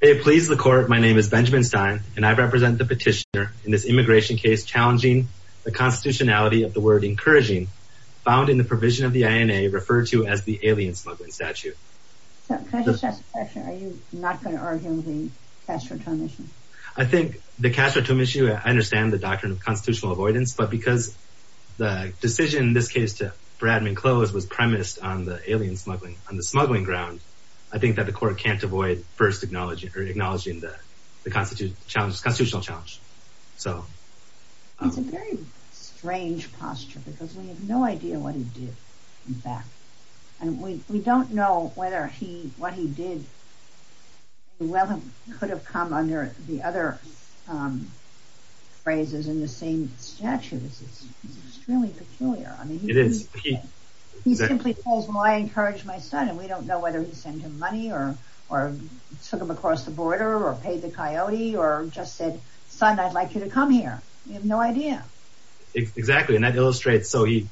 Hey, please the court, my name is Benjamin Stein, and I represent the petitioner in this immigration case challenging the constitutionality of the word encouraging, found in the provision of the INA referred to as the alien smuggling statute. Can I just ask a question, are you not going to argue with the Castro-Tome issue? I think the Castro-Tome issue, I understand the doctrine of constitutional avoidance, but because the decision in this case to Bradman Close was premised on the alien smuggling, on the smuggling ground, I think that the court can't avoid first acknowledging or acknowledging the constitutional challenge. It's a very strange posture, because we have no idea what he did in fact, and we don't know whether what he did could have come under the other phrases in the same statute, it's extremely peculiar. He simply says, I encourage my son, and we don't know whether he sent him money, or took him across the border, or paid the coyote, or just said, son, I'd like you to come here. We have no idea. Exactly, and that illustrates, so he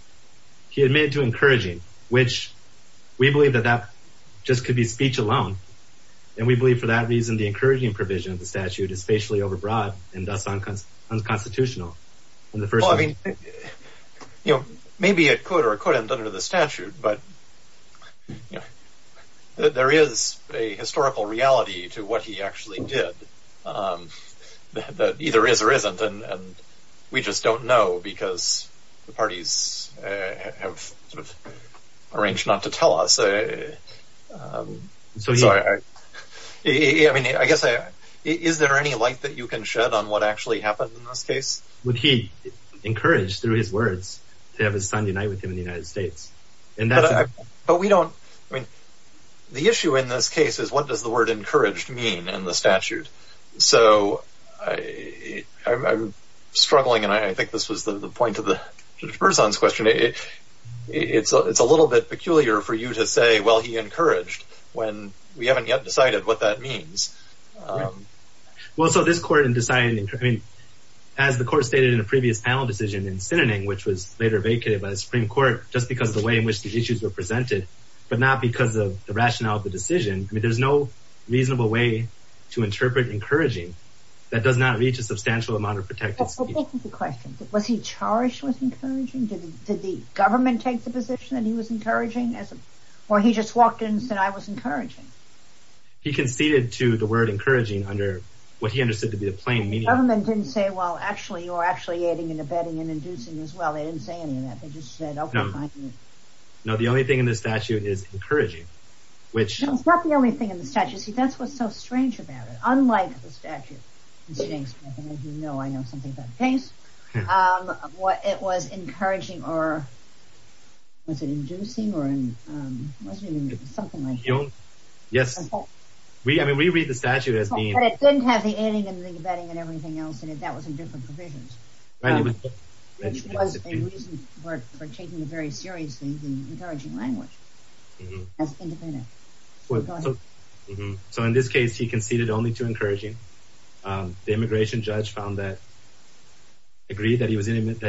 admitted to encouraging, which we believe that that just could be speech alone, and we believe for that reason, the encouraging provision of the statute is spatially overbroad, and thus unconstitutional. Well, I mean, maybe it could or couldn't under the statute, but there is a historical reality to what he actually did, that either is or isn't, and we just don't know, because the parties have sort of arranged not to tell us, I guess, is there any light that you can Would he encourage, through his words, to have his son unite with him in the United States? But we don't, I mean, the issue in this case is, what does the word encouraged mean in the statute? So I'm struggling, and I think this was the point of the first one's question, it's a little bit peculiar for you to say, well, he encouraged, when we haven't yet decided what that means. Well, so this court in deciding, I mean, as the court stated in a previous panel decision in Sinning, which was later vacated by the Supreme Court, just because of the way in which the issues were presented, but not because of the rationale of the decision, I mean, there's no reasonable way to interpret encouraging, that does not reach a substantial amount of protected speech. Was he charged with encouraging, did the government take the position that he was encouraging, or he just walked in and said, I was encouraging? He conceded to the word encouraging under what he understood to be the plain meaning. The government didn't say, well, actually, you're actually adding and abetting and inducing as well, they didn't say any of that, they just said, okay, fine. No, the only thing in the statute is encouraging, which... It's not the only thing in the statute, see, that's what's so strange about it, unlike the statute in Stanks, and I think you know, I know something about Stanks, what it was encouraging, or was it inducing, or was it something like that? Yes, I mean, we read the statute as being... But it didn't have the adding and the abetting and everything else in it, that was in different provisions, which was a reason for taking it very seriously, the encouraging language. So in this case, he conceded only to encouraging, the immigration judge found that, agreed that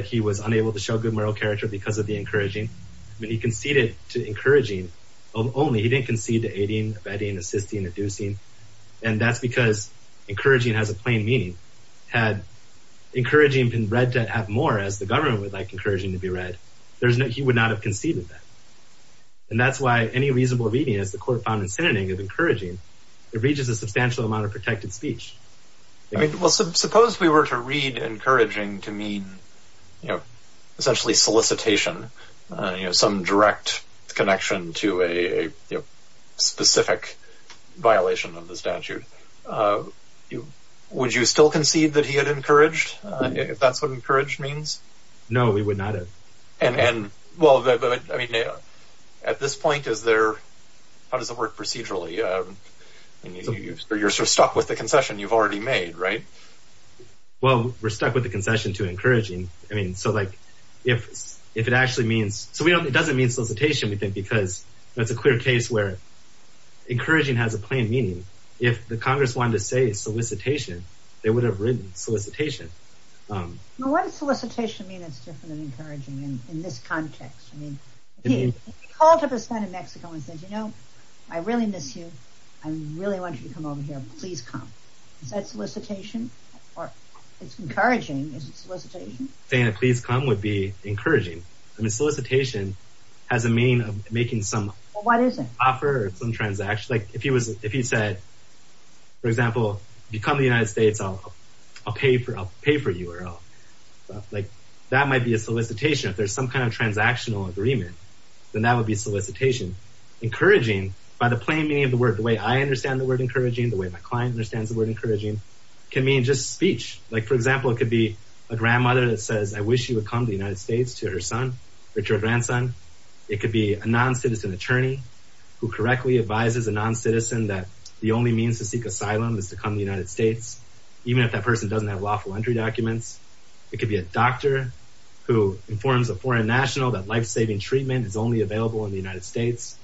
he was unable to show good moral character because of the encouraging, but he conceded to encouraging only, he didn't concede to adding, abetting, assisting, inducing, and that's because encouraging has a plain meaning. Had encouraging been read to have more, as the government would like encouraging to be read, he would not have conceded that. And that's why any reasonable reading, as the court found in Sinning, of encouraging, it reaches a substantial amount of protected speech. I mean, well, suppose we were to read encouraging to mean, you know, essentially solicitation, you know, some direct connection to a specific violation of the statute. Would you still concede that he had encouraged, if that's what encouraged means? No, we would not have. And well, I mean, at this point, is there, how does it work procedurally? You're sort of stuck with the concession you've already made, right? Well, we're stuck with the concession to encouraging. I mean, so like, if it actually means, so we don't, it doesn't mean solicitation, we think, because that's a clear case where encouraging has a plain meaning. If the Congress wanted to say solicitation, they would have written solicitation. Well, what does solicitation mean that's different than encouraging in this context? I mean, he called up his son in Mexico and said, you know, I really miss you. I really want you to come over here, please come. Or it's encouraging, is it solicitation? Saying please come would be encouraging. I mean, solicitation has a meaning of making some offer or some transaction. Like if he was, if he said, for example, if you come to the United States, I'll pay for you or I'll, like, that might be a solicitation. If there's some kind of transactional agreement, then that would be solicitation. Encouraging, by the plain meaning of the word, the way I understand the word encouraging, the way my client understands the word encouraging, can mean just speech. Like, for example, it could be a grandmother that says, I wish you would come to the United States to her son or to her grandson. It could be a non-citizen attorney who correctly advises a non-citizen that the only means to seek asylum is to come to the United States, even if that person doesn't have lawful entry documents. It could be a doctor who informs a foreign national that lifesaving treatment is only available in the United States.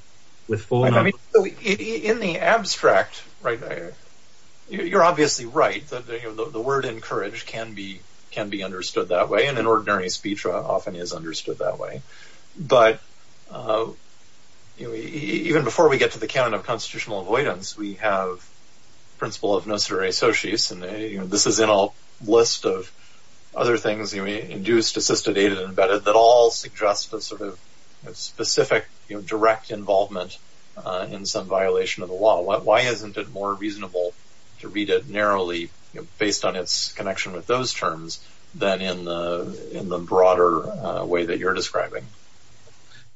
I mean, in the abstract, right, you're obviously right that the word encourage can be understood that way. And an ordinary speech often is understood that way. But even before we get to the canon of constitutional avoidance, we have principle of nocere sociis. And this is in a list of other things, induced, assisted, aided, and abetted, that all suggest a sort of specific direct involvement in some violation of the law. Why isn't it more reasonable to read it narrowly based on its connection with those terms than in the broader way that you're describing?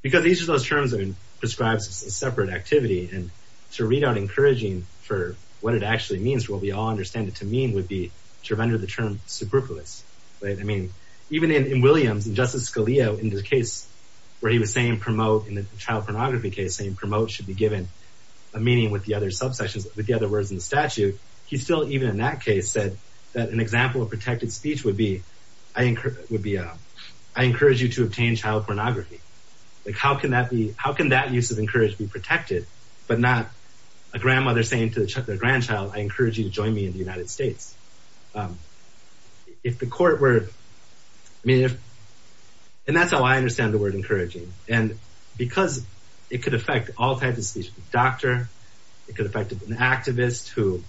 Because each of those terms prescribes a separate activity. And to read out encouraging for what it actually means, what we all understand it to mean, would be to render the term superfluous. I mean, even in Williams and Justice Scalia, in the case where he was saying promote in the child pornography case, saying promote should be given a meaning with the other subsections, with the other words in the statute. He still, even in that case, said that an example of protected speech would be, I encourage you to obtain child pornography. Like, how can that be, how can that use of encourage be protected, but not a grandmother saying to the grandchild, I encourage you to join me in the United States. If the court were, I mean, and that's how I understand the word encouraging. And because it could affect all types of speech, doctor, it could affect an activist who,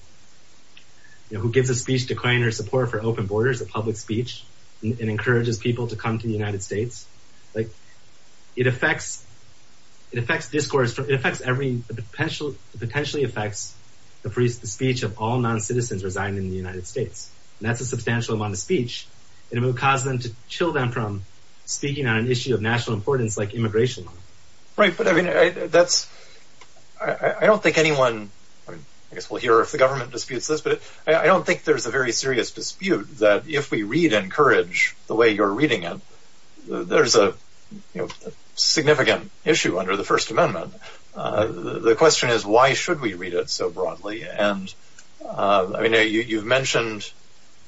you know, who gives a speech to claim or support for open borders of public speech and encourages people to come to the United States. Like it affects, it affects discourse, it affects every potential, it potentially affects the speech of all non-citizens residing in the United States. And that's a substantial amount of speech and it would cause them to chill them from speaking on an issue of national importance, like immigration. Right. But I mean, that's, I don't think anyone, I mean, I guess we'll hear if the government disputes this, but I don't think there's a very serious dispute that if we read and encourage the way you're reading it, there's a significant issue under the first amendment. The question is, why should we read it so broadly? And I mean, you've mentioned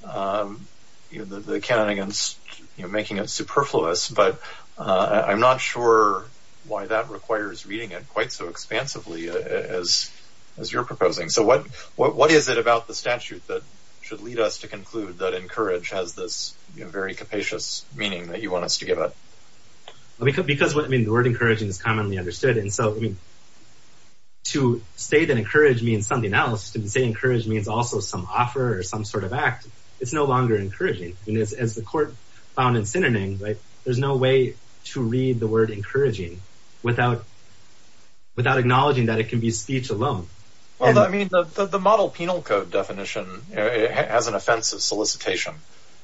the canon against making it superfluous, but I'm not sure why that requires reading it quite so expansively as you're proposing. So what is it about the statute that should lead us to conclude that encourage has this very capacious meaning that you want us to give it? Because what I mean, the word encouraging is commonly understood. And so, I mean, to say that encourage means something else, to say encourage means also some offer or some sort of act. It's no longer encouraging. And as the court found in synonyms, right, there's no way to read the word encouraging without, without acknowledging that it can be speech alone. Well, I mean, the model penal code definition has an offensive solicitation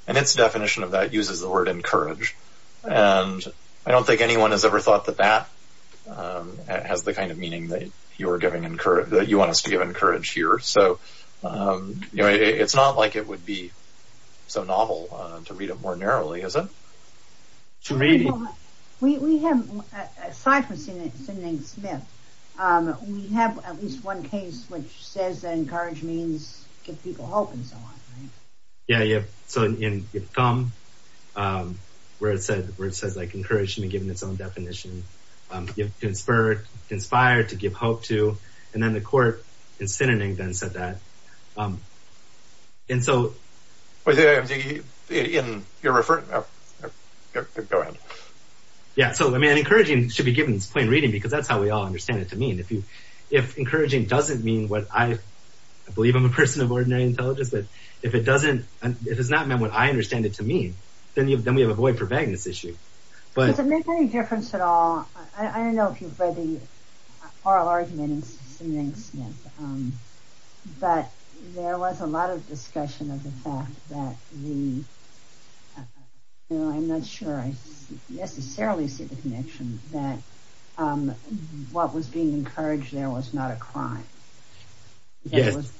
and its definition of that uses the word encourage. And I don't think anyone has ever thought that that has the kind of meaning that you're giving encourage, that you want us to give encourage here. So, you know, it's not like it would be so novel to read it more narrowly, is it? To me, we have, aside from Sidney Smith, we have at least one case which says that encourage means give people hope and so on. Yeah, yeah. So in, where it said, where it says, like, encouraging and giving its own definition, you've conspired to give hope to. And then the court in synonyms then said that. And so in your reference, go ahead. Yeah, so, I mean, encouraging should be given its plain reading because that's how we all understand it to mean if you if encouraging doesn't mean what I believe I'm a person of ordinary intelligence. But if it doesn't, if it's not meant what I understand it to mean, then you then we have a void for vagueness issue. But does it make any difference at all? I don't know if you've read the oral argument in Sidney Smith, but there was a lot of discussion of the fact that the, you know, I'm not sure I necessarily see the connection that what was being encouraged there was not a crime. Yes.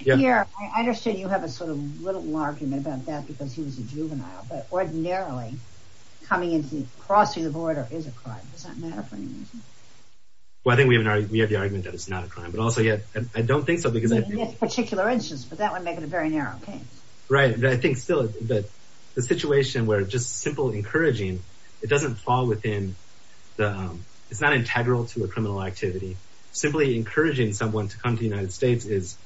Yeah, I understand you have a sort of little argument about that because he was a juvenile, but ordinarily, coming into the crossing the border is a crime. Well, I think we have an argument that it's not a crime. But also yet, I don't think so. Because in this particular instance, but that would make it a very narrow case. Right. I think still that the situation where just simple encouraging, it doesn't fall within the, it's not integral to a criminal activity. Simply encouraging someone to come to the United States is,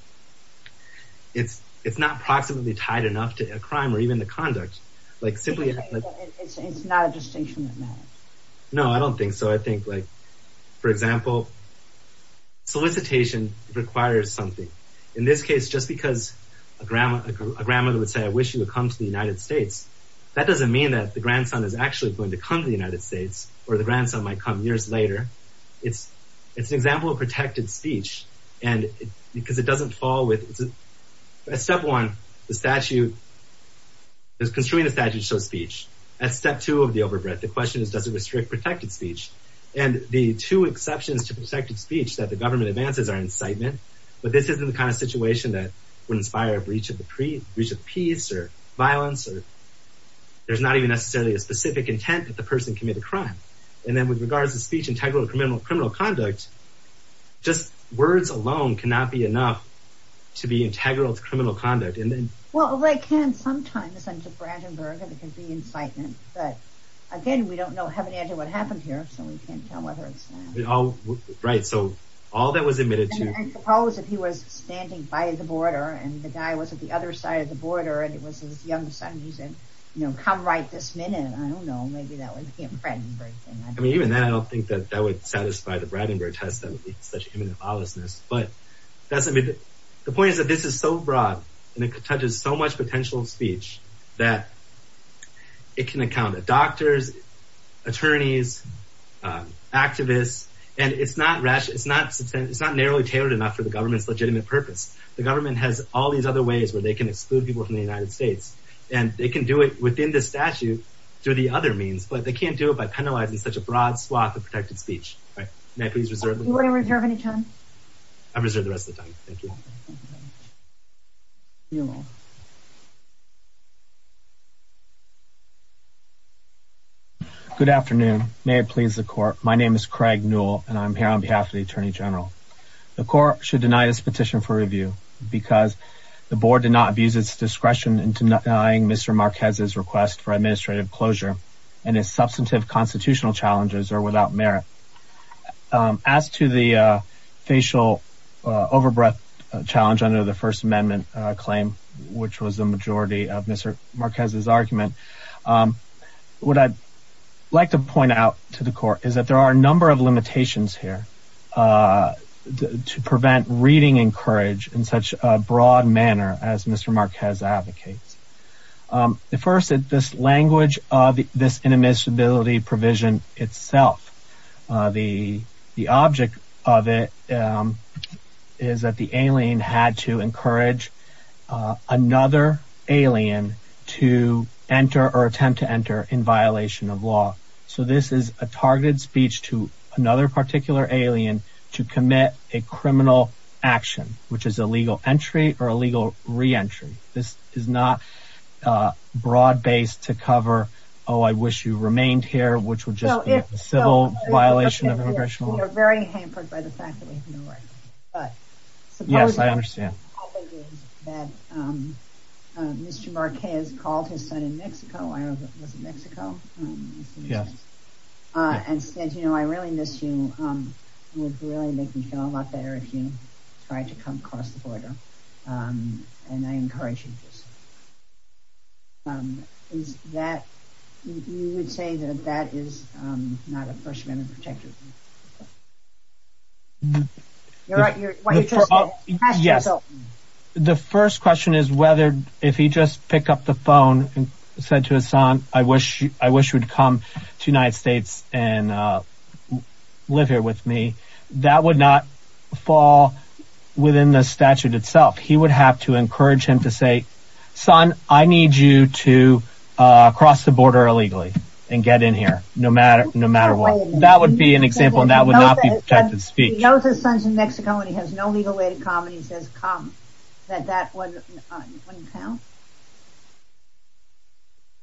it's not proximately tied enough to a crime or even the conduct. Like simply, it's not a distinction. No, I don't think so. I think like, for example, solicitation requires something. In this case, just because a grandmother would say, I wish you would come to the United States. That doesn't mean that the grandson is actually going to come to the United States or the grandson might come years later. It's, it's an example of protected speech and because it doesn't fall with step one, the statute is construing a statute. So speech at step two of the overbreadth. The question is, does it restrict protected speech? And the two exceptions to protected speech that the government advances are incitement. But this isn't the kind of situation that would inspire a breach of the breach of peace or violence, or there's not even necessarily a specific intent that the person committed crime. And then with regards to speech, integral to criminal criminal conduct, just words alone cannot be enough to be integral to criminal conduct. And then, well, they can sometimes. And to Brandenburg, and it can be incitement. But again, we don't know heaven and hell what happened here. So we can't tell whether it's, right. So all that was admitted to, I suppose if he was standing by the border and the guy was at the other side of the border and it was his young son, he said, you know, come right this minute. I don't know. Maybe that was him. Brandenburg. I mean, even then, I don't think that that would satisfy the Brandenburg test. That would be such imminent lawlessness. But that's the point is that this is so broad and it touches so much potential speech that it can account to doctors, attorneys, activists. And it's not rash. It's not it's not narrowly tailored enough for the government's legitimate purpose. The government has all these other ways where they can exclude people from the United States and they can do it within the statute. Through the other means. But they can't do it by penalizing such a broad swath of protected speech. May I please reserve any time? I reserve the rest of the time. Good afternoon. May it please the court. My name is Craig Newell and I'm here on behalf of the attorney general. The court should deny this petition for review because the board did not abuse its discretion in denying Mr. Marquez's request for administrative closure and its substantive constitutional challenges are without merit. As to the facial overbreath challenge under the First Amendment claim, which was the majority of Mr. Marquez's argument, what I'd like to point out to the court is that there are a number of limitations here. To prevent reading encouraged in such a broad manner as Mr. Marquez advocates. The first is this language of this inadmissibility provision itself. The the object of it is that the alien had to encourage another alien to enter or attempt to enter in violation of law. So this is a targeted speech to another particular alien to commit a criminal action, which is illegal entry or illegal re-entry. This is not a broad base to cover. Oh, I wish you remained here, which would just be a civil violation of immigration law. We are very hampered by the fact that we have no right. But yes, I understand that Mr. Marquez called his son in Mexico. I don't know if it was in Mexico. Yes. And said, you know, I really miss you. It would really make me feel a lot better if you tried to come across the border. And I encourage you. Is that you would say that that is not a First Amendment protection? You're right, you're right. Yes. The first question is whether if he just pick up the phone and said to his son, I wish you would come to United States and live here with me, that would not fall within the statute itself. He would have to encourage him to say, son, I need you to cross the border illegally and get in here no matter no matter what. That would be an example. And that would not be protected speech. He knows his son's in Mexico and he has no legal way to come. And he says come, that that wouldn't count.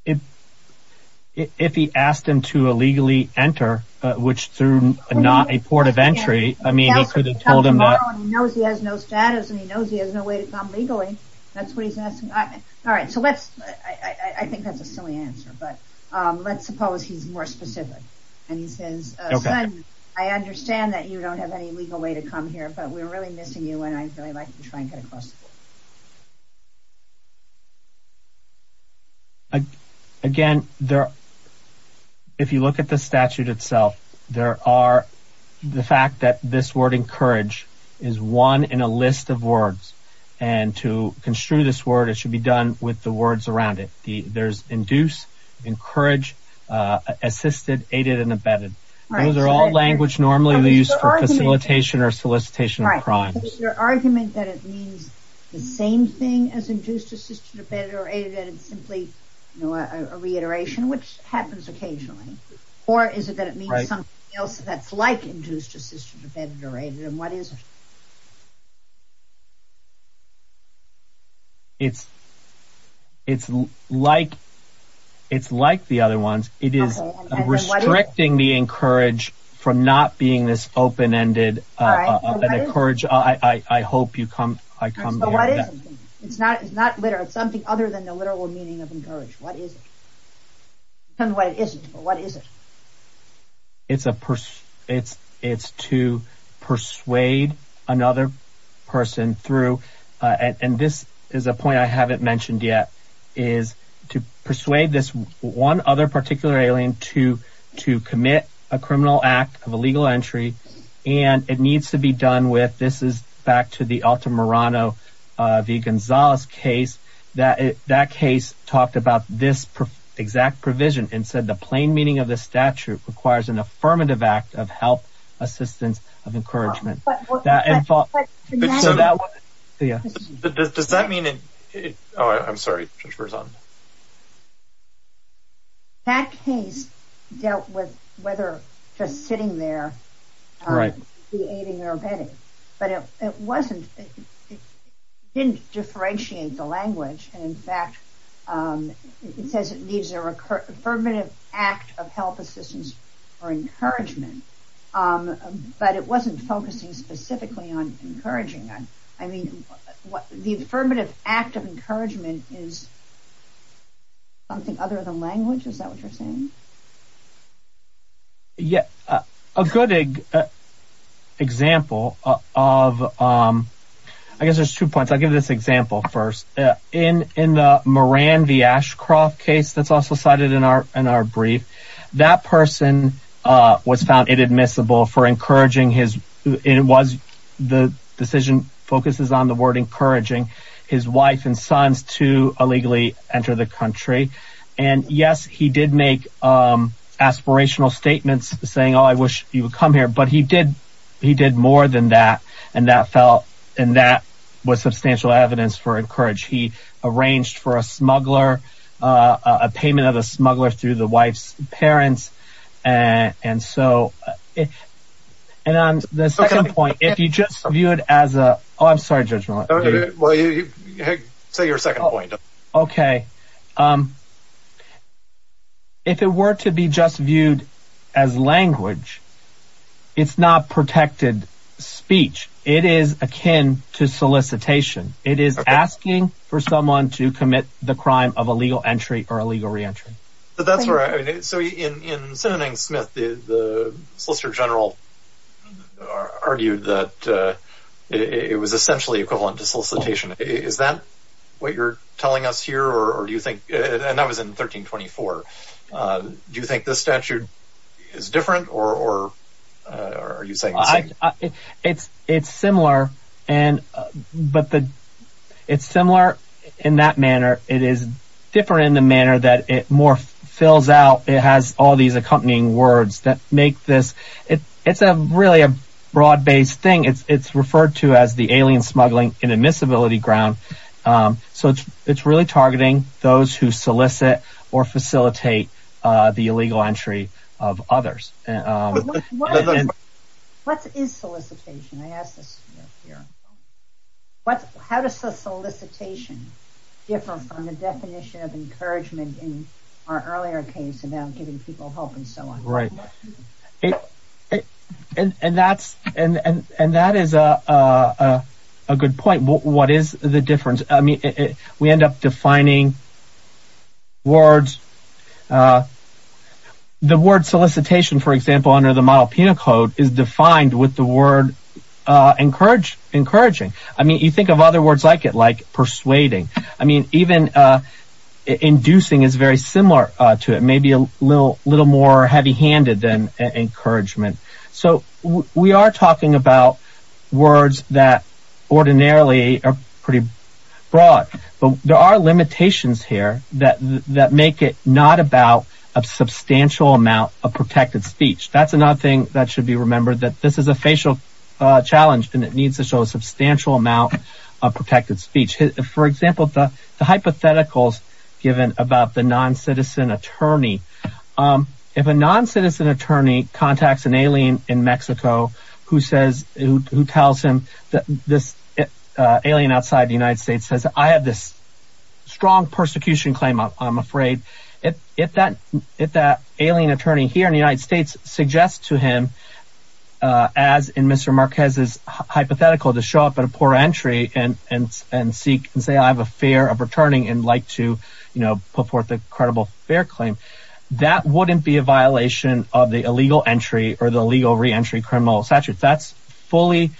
If if he asked him to illegally enter, which through not a port of entry, I mean, he could have told him that he knows he has no status and he knows he has no way to come legally. That's what he's asking. All right. So let's I think that's a silly answer, but let's suppose he's more specific and he says, son, I understand that you don't have any legal way to come here, but we're really missing you. And I'd really like to try and get across. Again, if you look at the statute itself, there are the fact that this word encourage is one in a list of words and to construe this word, it should be done with the words around it. There's induce, encourage, assisted, aided and abetted. Those are all language normally used for facilitation or solicitation of crimes. Your argument that it means the same thing as induced, assisted, abetted or aided and simply a reiteration, which happens occasionally, or is it that it means something else that's like induced, assisted, abetted or aided? And what is. It's it's like it's like the other ones, it is restricting the encourage from not being this open ended and encourage. I hope you come. I come. But what is it? It's not it's not literal. It's something other than the literal meaning of encourage. What is it? And what is it? What is it? It's a it's it's to persuade another person through and this is a point I haven't mentioned yet, is to persuade this one other particular alien to to commit a criminal act of illegal entry. And it needs to be done with. This is back to the Altamirano v. Gonzalez case that that case talked about this exact provision and said the plain meaning of the statute requires an affirmative act of help, assistance of encouragement. But that and so that does that mean it? Oh, I'm sorry, for some. That case dealt with whether just sitting there, right, the aiding or abetting, but it wasn't it didn't differentiate the language. And in fact, it says it needs a recurrent affirmative act of help, assistance or encouragement. But it wasn't focusing specifically on encouraging. I mean, what the affirmative act of encouragement is. Something other than language, is that what you're saying? Yet a good example of I guess there's two points, I give this example first in in Moran, the Ashcroft case that's also cited in our in our brief, that person was found inadmissible for encouraging his it was the decision focuses on the word encouraging his wife and sons to illegally enter the country. And yes, he did make aspirational statements saying, oh, I wish you would come here. But he did. He did more than that. And that felt and that was substantial evidence for encourage. He arranged for a smuggler, a payment of a smuggler through the wife's parents. And so it and on the second point, if you just view it as a I'm sorry, Judge. Well, you say your second point. OK. If it were to be just viewed as language, it's not protected speech. It is akin to solicitation. It is asking for someone to commit the crime of illegal entry or illegal reentry. But that's right. So in in sending Smith, the Solicitor General argued that it was essentially equivalent to solicitation. Is that what you're telling us here? Or do you think and I was in 1324. Do you think this statute is different or are you saying it's it's similar? And but it's similar in that manner. It is different in the manner that it more fills out. It has all these accompanying words that make this it it's a really a broad based thing. It's it's referred to as the alien smuggling and admissibility ground. So it's it's really targeting those who solicit or facilitate the illegal entry of others. And what is solicitation? I asked this here. What how does the solicitation differ from the definition of encouragement in our earlier case about giving people hope and so on? Right. And that's and that is a good point. What is the difference? I mean, we end up defining. Words. The word solicitation, for example, under the model penal code is defined with the word encourage encouraging. I mean, you think of other words like it, like persuading. I mean, even inducing is very similar to it. Maybe a little little more heavy handed than encouragement. So we are talking about words that ordinarily are pretty broad, but there are limitations here that that make it not about a substantial amount of protected speech. That's another thing that should be remembered, that this is a facial challenge and it needs to show a substantial amount of protected speech. For example, the hypotheticals given about the non-citizen attorney, if a non-citizen attorney contacts an alien in Mexico who says who tells him that this alien outside the United States says, I have this strong persecution claim, I'm afraid if that if that alien attorney here in the United States suggests to him, as in Mr. Marquez's hypothetical to show up at a poor entry and and and seek and say, I have a fear of returning and like to put forth a credible fair claim, that wouldn't be a violation of the illegal entry or the legal reentry criminal statute. That's fully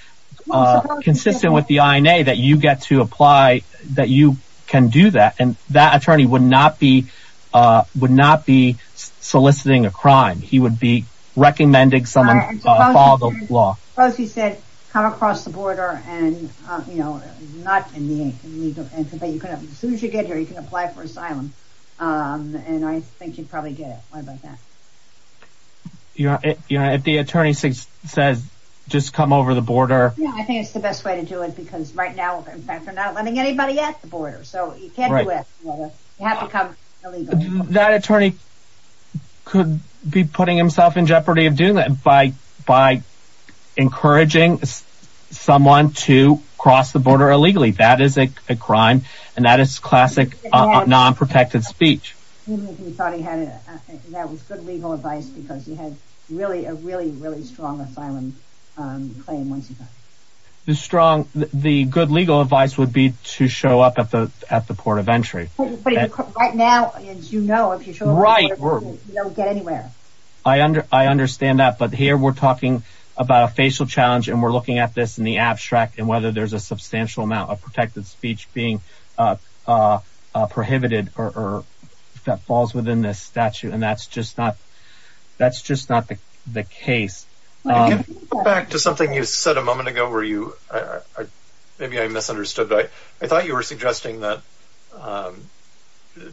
consistent with the INA that you get to apply, that you can do that. And that attorney would not be would not be soliciting a crime. He would be recommending someone follow the law. Suppose he said come across the border and, you know, not in the legal entry, but as soon as you get here, you can apply for asylum. And I think you'd probably get it. What about that? You know, if the attorney says, just come over the border. I think it's the best way to do it, because right now, in fact, they're not letting anybody at the border. So you can't do it. You have to come illegally. That attorney could be putting himself in jeopardy of doing that by by encouraging someone to cross the border illegally. That is a crime. And that is classic nonprotected speech. He thought he had it. That was good legal advice because he had really a really, really strong asylum claim. The strong the good legal advice would be to show up at the at the port of entry. Right now, you know, if you're right, you don't get anywhere. I under I understand that. But here we're talking about a facial challenge and we're looking at this in the abstract and whether there's a substantial amount of protected speech being prohibited or that falls within this statute. And that's just not that's just not the case. I can go back to something you said a moment ago where you are. Maybe I misunderstood. I thought you were suggesting that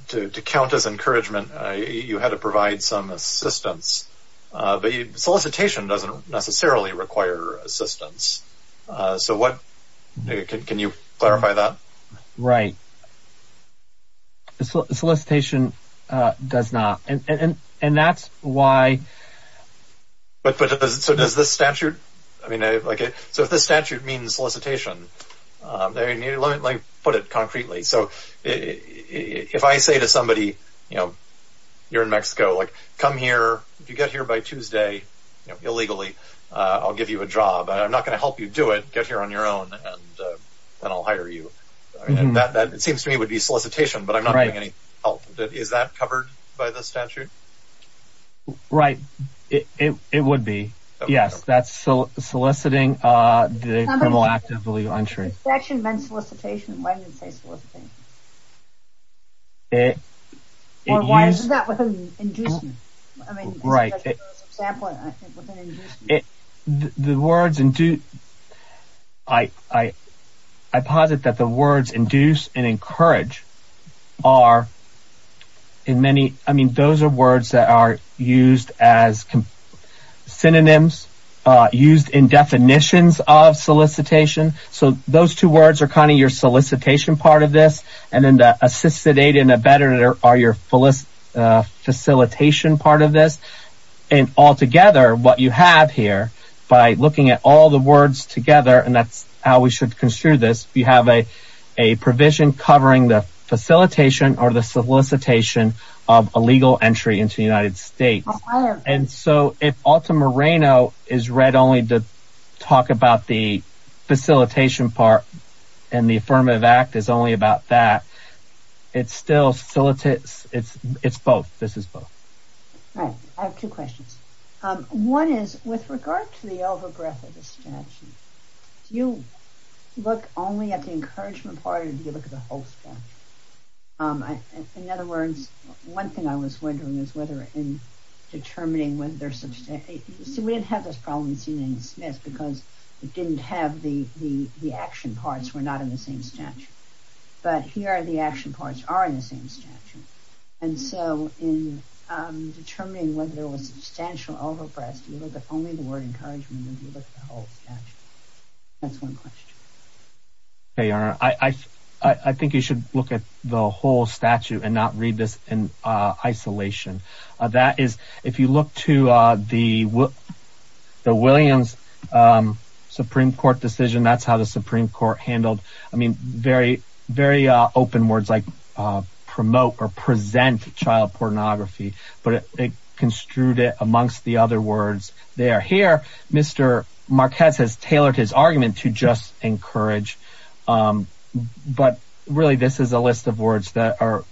to count as encouragement, you had to provide some assistance. The solicitation doesn't necessarily require assistance. So what can you clarify that? Right. Solicitation does not. And that's why. But so does the statute. I mean, I like it. So if the statute means solicitation, let me put it concretely. So if I say to somebody, you know, you're in Mexico, like, come here. If you get here by Tuesday illegally, I'll give you a job and I'm not going to help you do it. Get here on your own and I'll hire you. That seems to me would be solicitation. But I'm not getting any help. Is that covered by the statute? Right. It would be. Yes. That's so soliciting the criminal act of illegal entry. Section men's solicitation. Why do you say soliciting? It is that we're going to induce you. I mean, right. It the words and do I, I, I posit that the words induce and encourage are in many. I mean, those are words that are used as synonyms used in definitions of solicitation. So those two words are kind of your solicitation part of this. And then the assisted aid and a better are your fullest facilitation part of this. And altogether, what you have here by looking at all the words together, and that's how we should construe this. You have a a provision covering the facilitation or the solicitation of illegal entry into the United States. And so if Alta Moreno is read only to talk about the facilitation part and the affirmative act is only about that, it's still solicits. It's it's both. This is both. I have two questions. One is with regard to the overbreath of the statute. You look only at the encouragement part of the whole. In other words, one thing I was wondering is whether in determining whether there's some state. So we have this problem in seeing this because it didn't have the the the action parts were not in the same statute. But here are the action parts are in the same statute. And so in determining whether there was substantial overbreath, you look at only the word encouragement and you look at the whole statute. That's one question. Hey, I think you should look at the whole statute and not read this in isolation. That is if you look to the the Williams Supreme Court decision, that's how the Supreme Court handled. I mean, very, very open words like promote or present child pornography. But it construed it amongst the other words there. Here, Mr. Marquez has tailored his argument to just encourage. But really, this is a list of words that are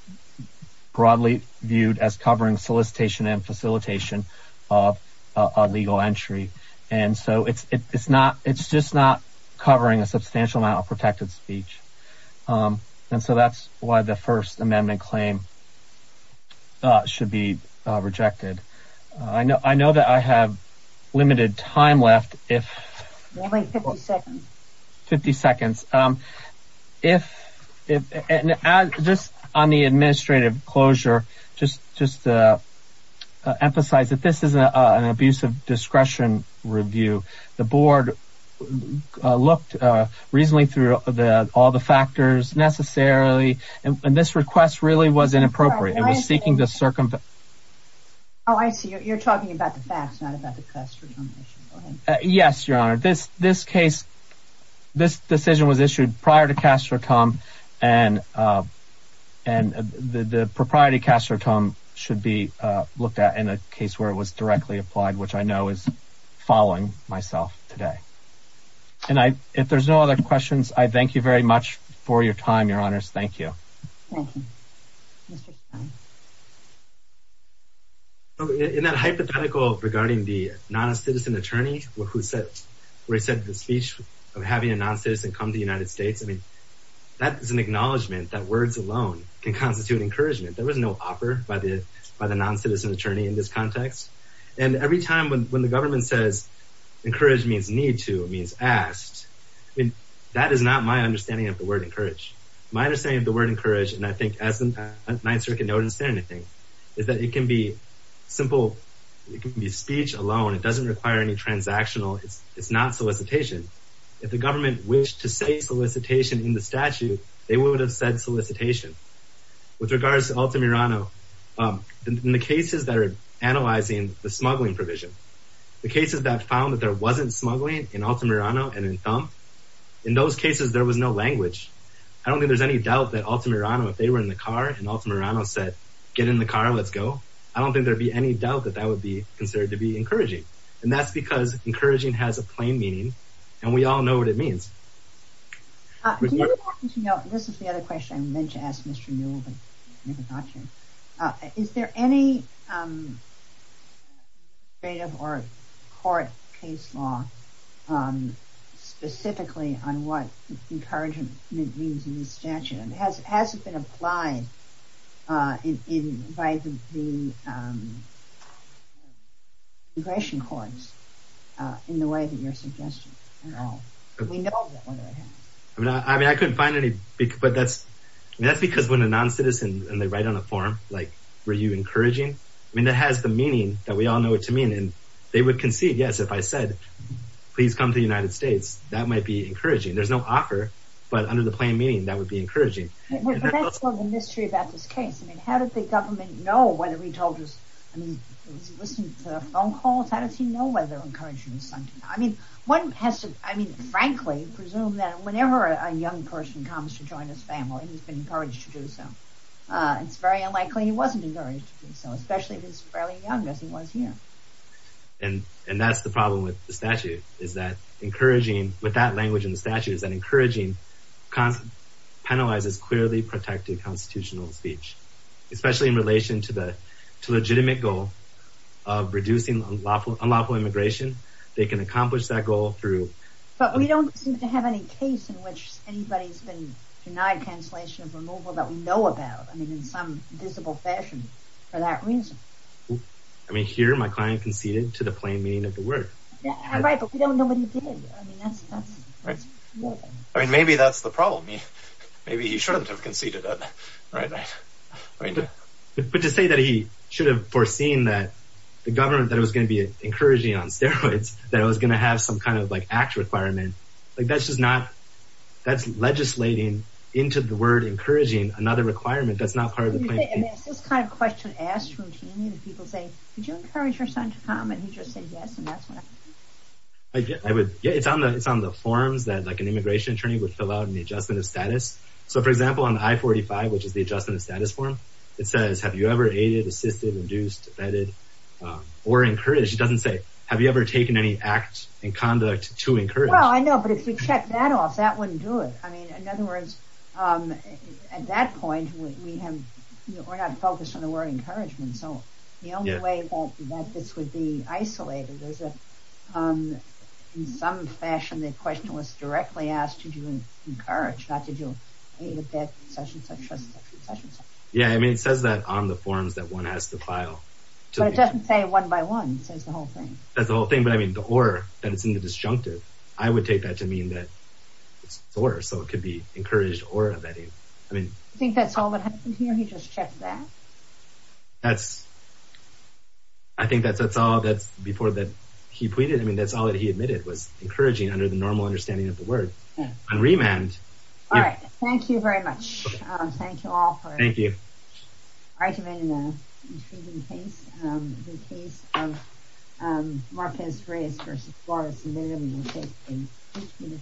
broadly viewed as covering solicitation and facilitation of a legal entry. And so it's it's not it's just not covering a substantial amount of protected speech. And so that's why the First Amendment claim should be rejected. I know I know that I have limited time left. If we wait 50 seconds, 50 seconds, if it's just on the administrative closure, just just emphasize that this is an abuse of discretion review. The board looked reasonably through all the factors necessarily, and this request really was inappropriate. It was seeking to circumvent. Oh, I see you're talking about the facts, not about the custody. Yes, your honor. This this case, this decision was issued prior to Castro come and and the propriety Castro come should be looked at in a case where it was directly applied, which I know is following myself today. And I if there's no other questions, I thank you very much for your time, your honors. Thank you. In that hypothetical regarding the non-citizen attorney who said where he said the speech of having a non-citizen come to the United States, I mean, that is an acknowledgment that words alone can constitute encouragement. There was no offer by the by the non-citizen attorney in this context. And every time when when the government says encourage means need to means asked, I mean, that is not my understanding of the word encourage. My understanding of the word encourage, and I think as the Ninth Circuit notice anything is that it can be simple. It can be speech alone. It doesn't require any transactional. It's not solicitation. If the government wished to say solicitation in the statute, they would have said solicitation. With regards to Altamirano, in the cases that are analyzing the smuggling provision, the cases that found that there wasn't smuggling in Altamirano and in Thump, in those cases, there was no language. I don't think there's any doubt that Altamirano, if they were in the car and Altamirano said, get in the car, let's go. I don't think there'd be any doubt that that would be considered to be encouraging. And that's because encouraging has a plain meaning and we all know what it means. This is the other question I meant to ask Mr. Newell, but maybe not here. Is there any legislative or court case law specifically on what encouragement means in this statute? And has it been applied by the immigration courts in the way that you're suggesting at all? I mean, I couldn't find any, but that's because when a non-citizen and they write on a form, like, were you encouraging? I mean, that has the meaning that we all know what to mean. And they would concede, yes, if I said, please come to the United States, that might be encouraging. There's no offer, but under the plain meaning, that would be encouraging. That's the mystery about this case. I mean, how did the government know whether he told us, I mean, was he listening to phone calls? How does he know whether encouraging is something? I mean, one has to, I mean, frankly, presume that whenever a young person comes to join his family, he's been encouraged to do so. It's very unlikely he wasn't encouraged to do so, especially if he's fairly young as he was here. And that's the problem with the statute is that encouraging, with that language in the statute, is that encouraging penalizes clearly protected constitutional speech, especially in relation to the legitimate goal of reducing unlawful immigration. They can accomplish that goal through. But we don't seem to have any case in which anybody's been denied cancellation of removal that we know about. I mean, in some visible fashion for that reason. I mean, here, my client conceded to the plain meaning of the word. Right, but we don't know what he did. I mean, that's. I mean, maybe that's the problem. Maybe he shouldn't have conceded it. Right, right. But to say that he should have foreseen that the government that was going to be encouraging on steroids, that it was going to have some kind of like act requirement, like that's just not, that's legislating into the word encouraging another requirement. That's not part of the plan. It's this kind of question asked routinely that people say, could you encourage your son to come? And he just said yes, and that's what happened. I would. Yeah, it's on the it's on the forms that like an immigration attorney would fill out in the adjustment of status. So, for example, on I-45, which is the adjustment of status form, it says, have you ever aided, assisted, induced, vetted or encouraged? It doesn't say, have you ever taken any act and conduct to encourage? Well, I know. But if you check that off, that wouldn't do it. I mean, in other words, at that point, we have we're not focused on the word encouragement. So the only way that this would be isolated is that in some fashion, the question was directly asked, did you encourage, not did you aid, vetted, such and such, such and such. Yeah, I mean, it says that on the forms that one has to file. But it doesn't say one by one. It says the whole thing. That's the whole thing. But I mean, the or that it's in the disjunctive. I would take that to mean that it's or, so it could be encouraged or vetted. I mean, I think that's all that happened here. He just checked that. That's I think that's that's all that's before that he pleaded. I mean, that's all that he admitted was encouraging under the normal understanding of the word and remand. All right. Thank you very much. Thank you all. Thank you. All right. Thank you.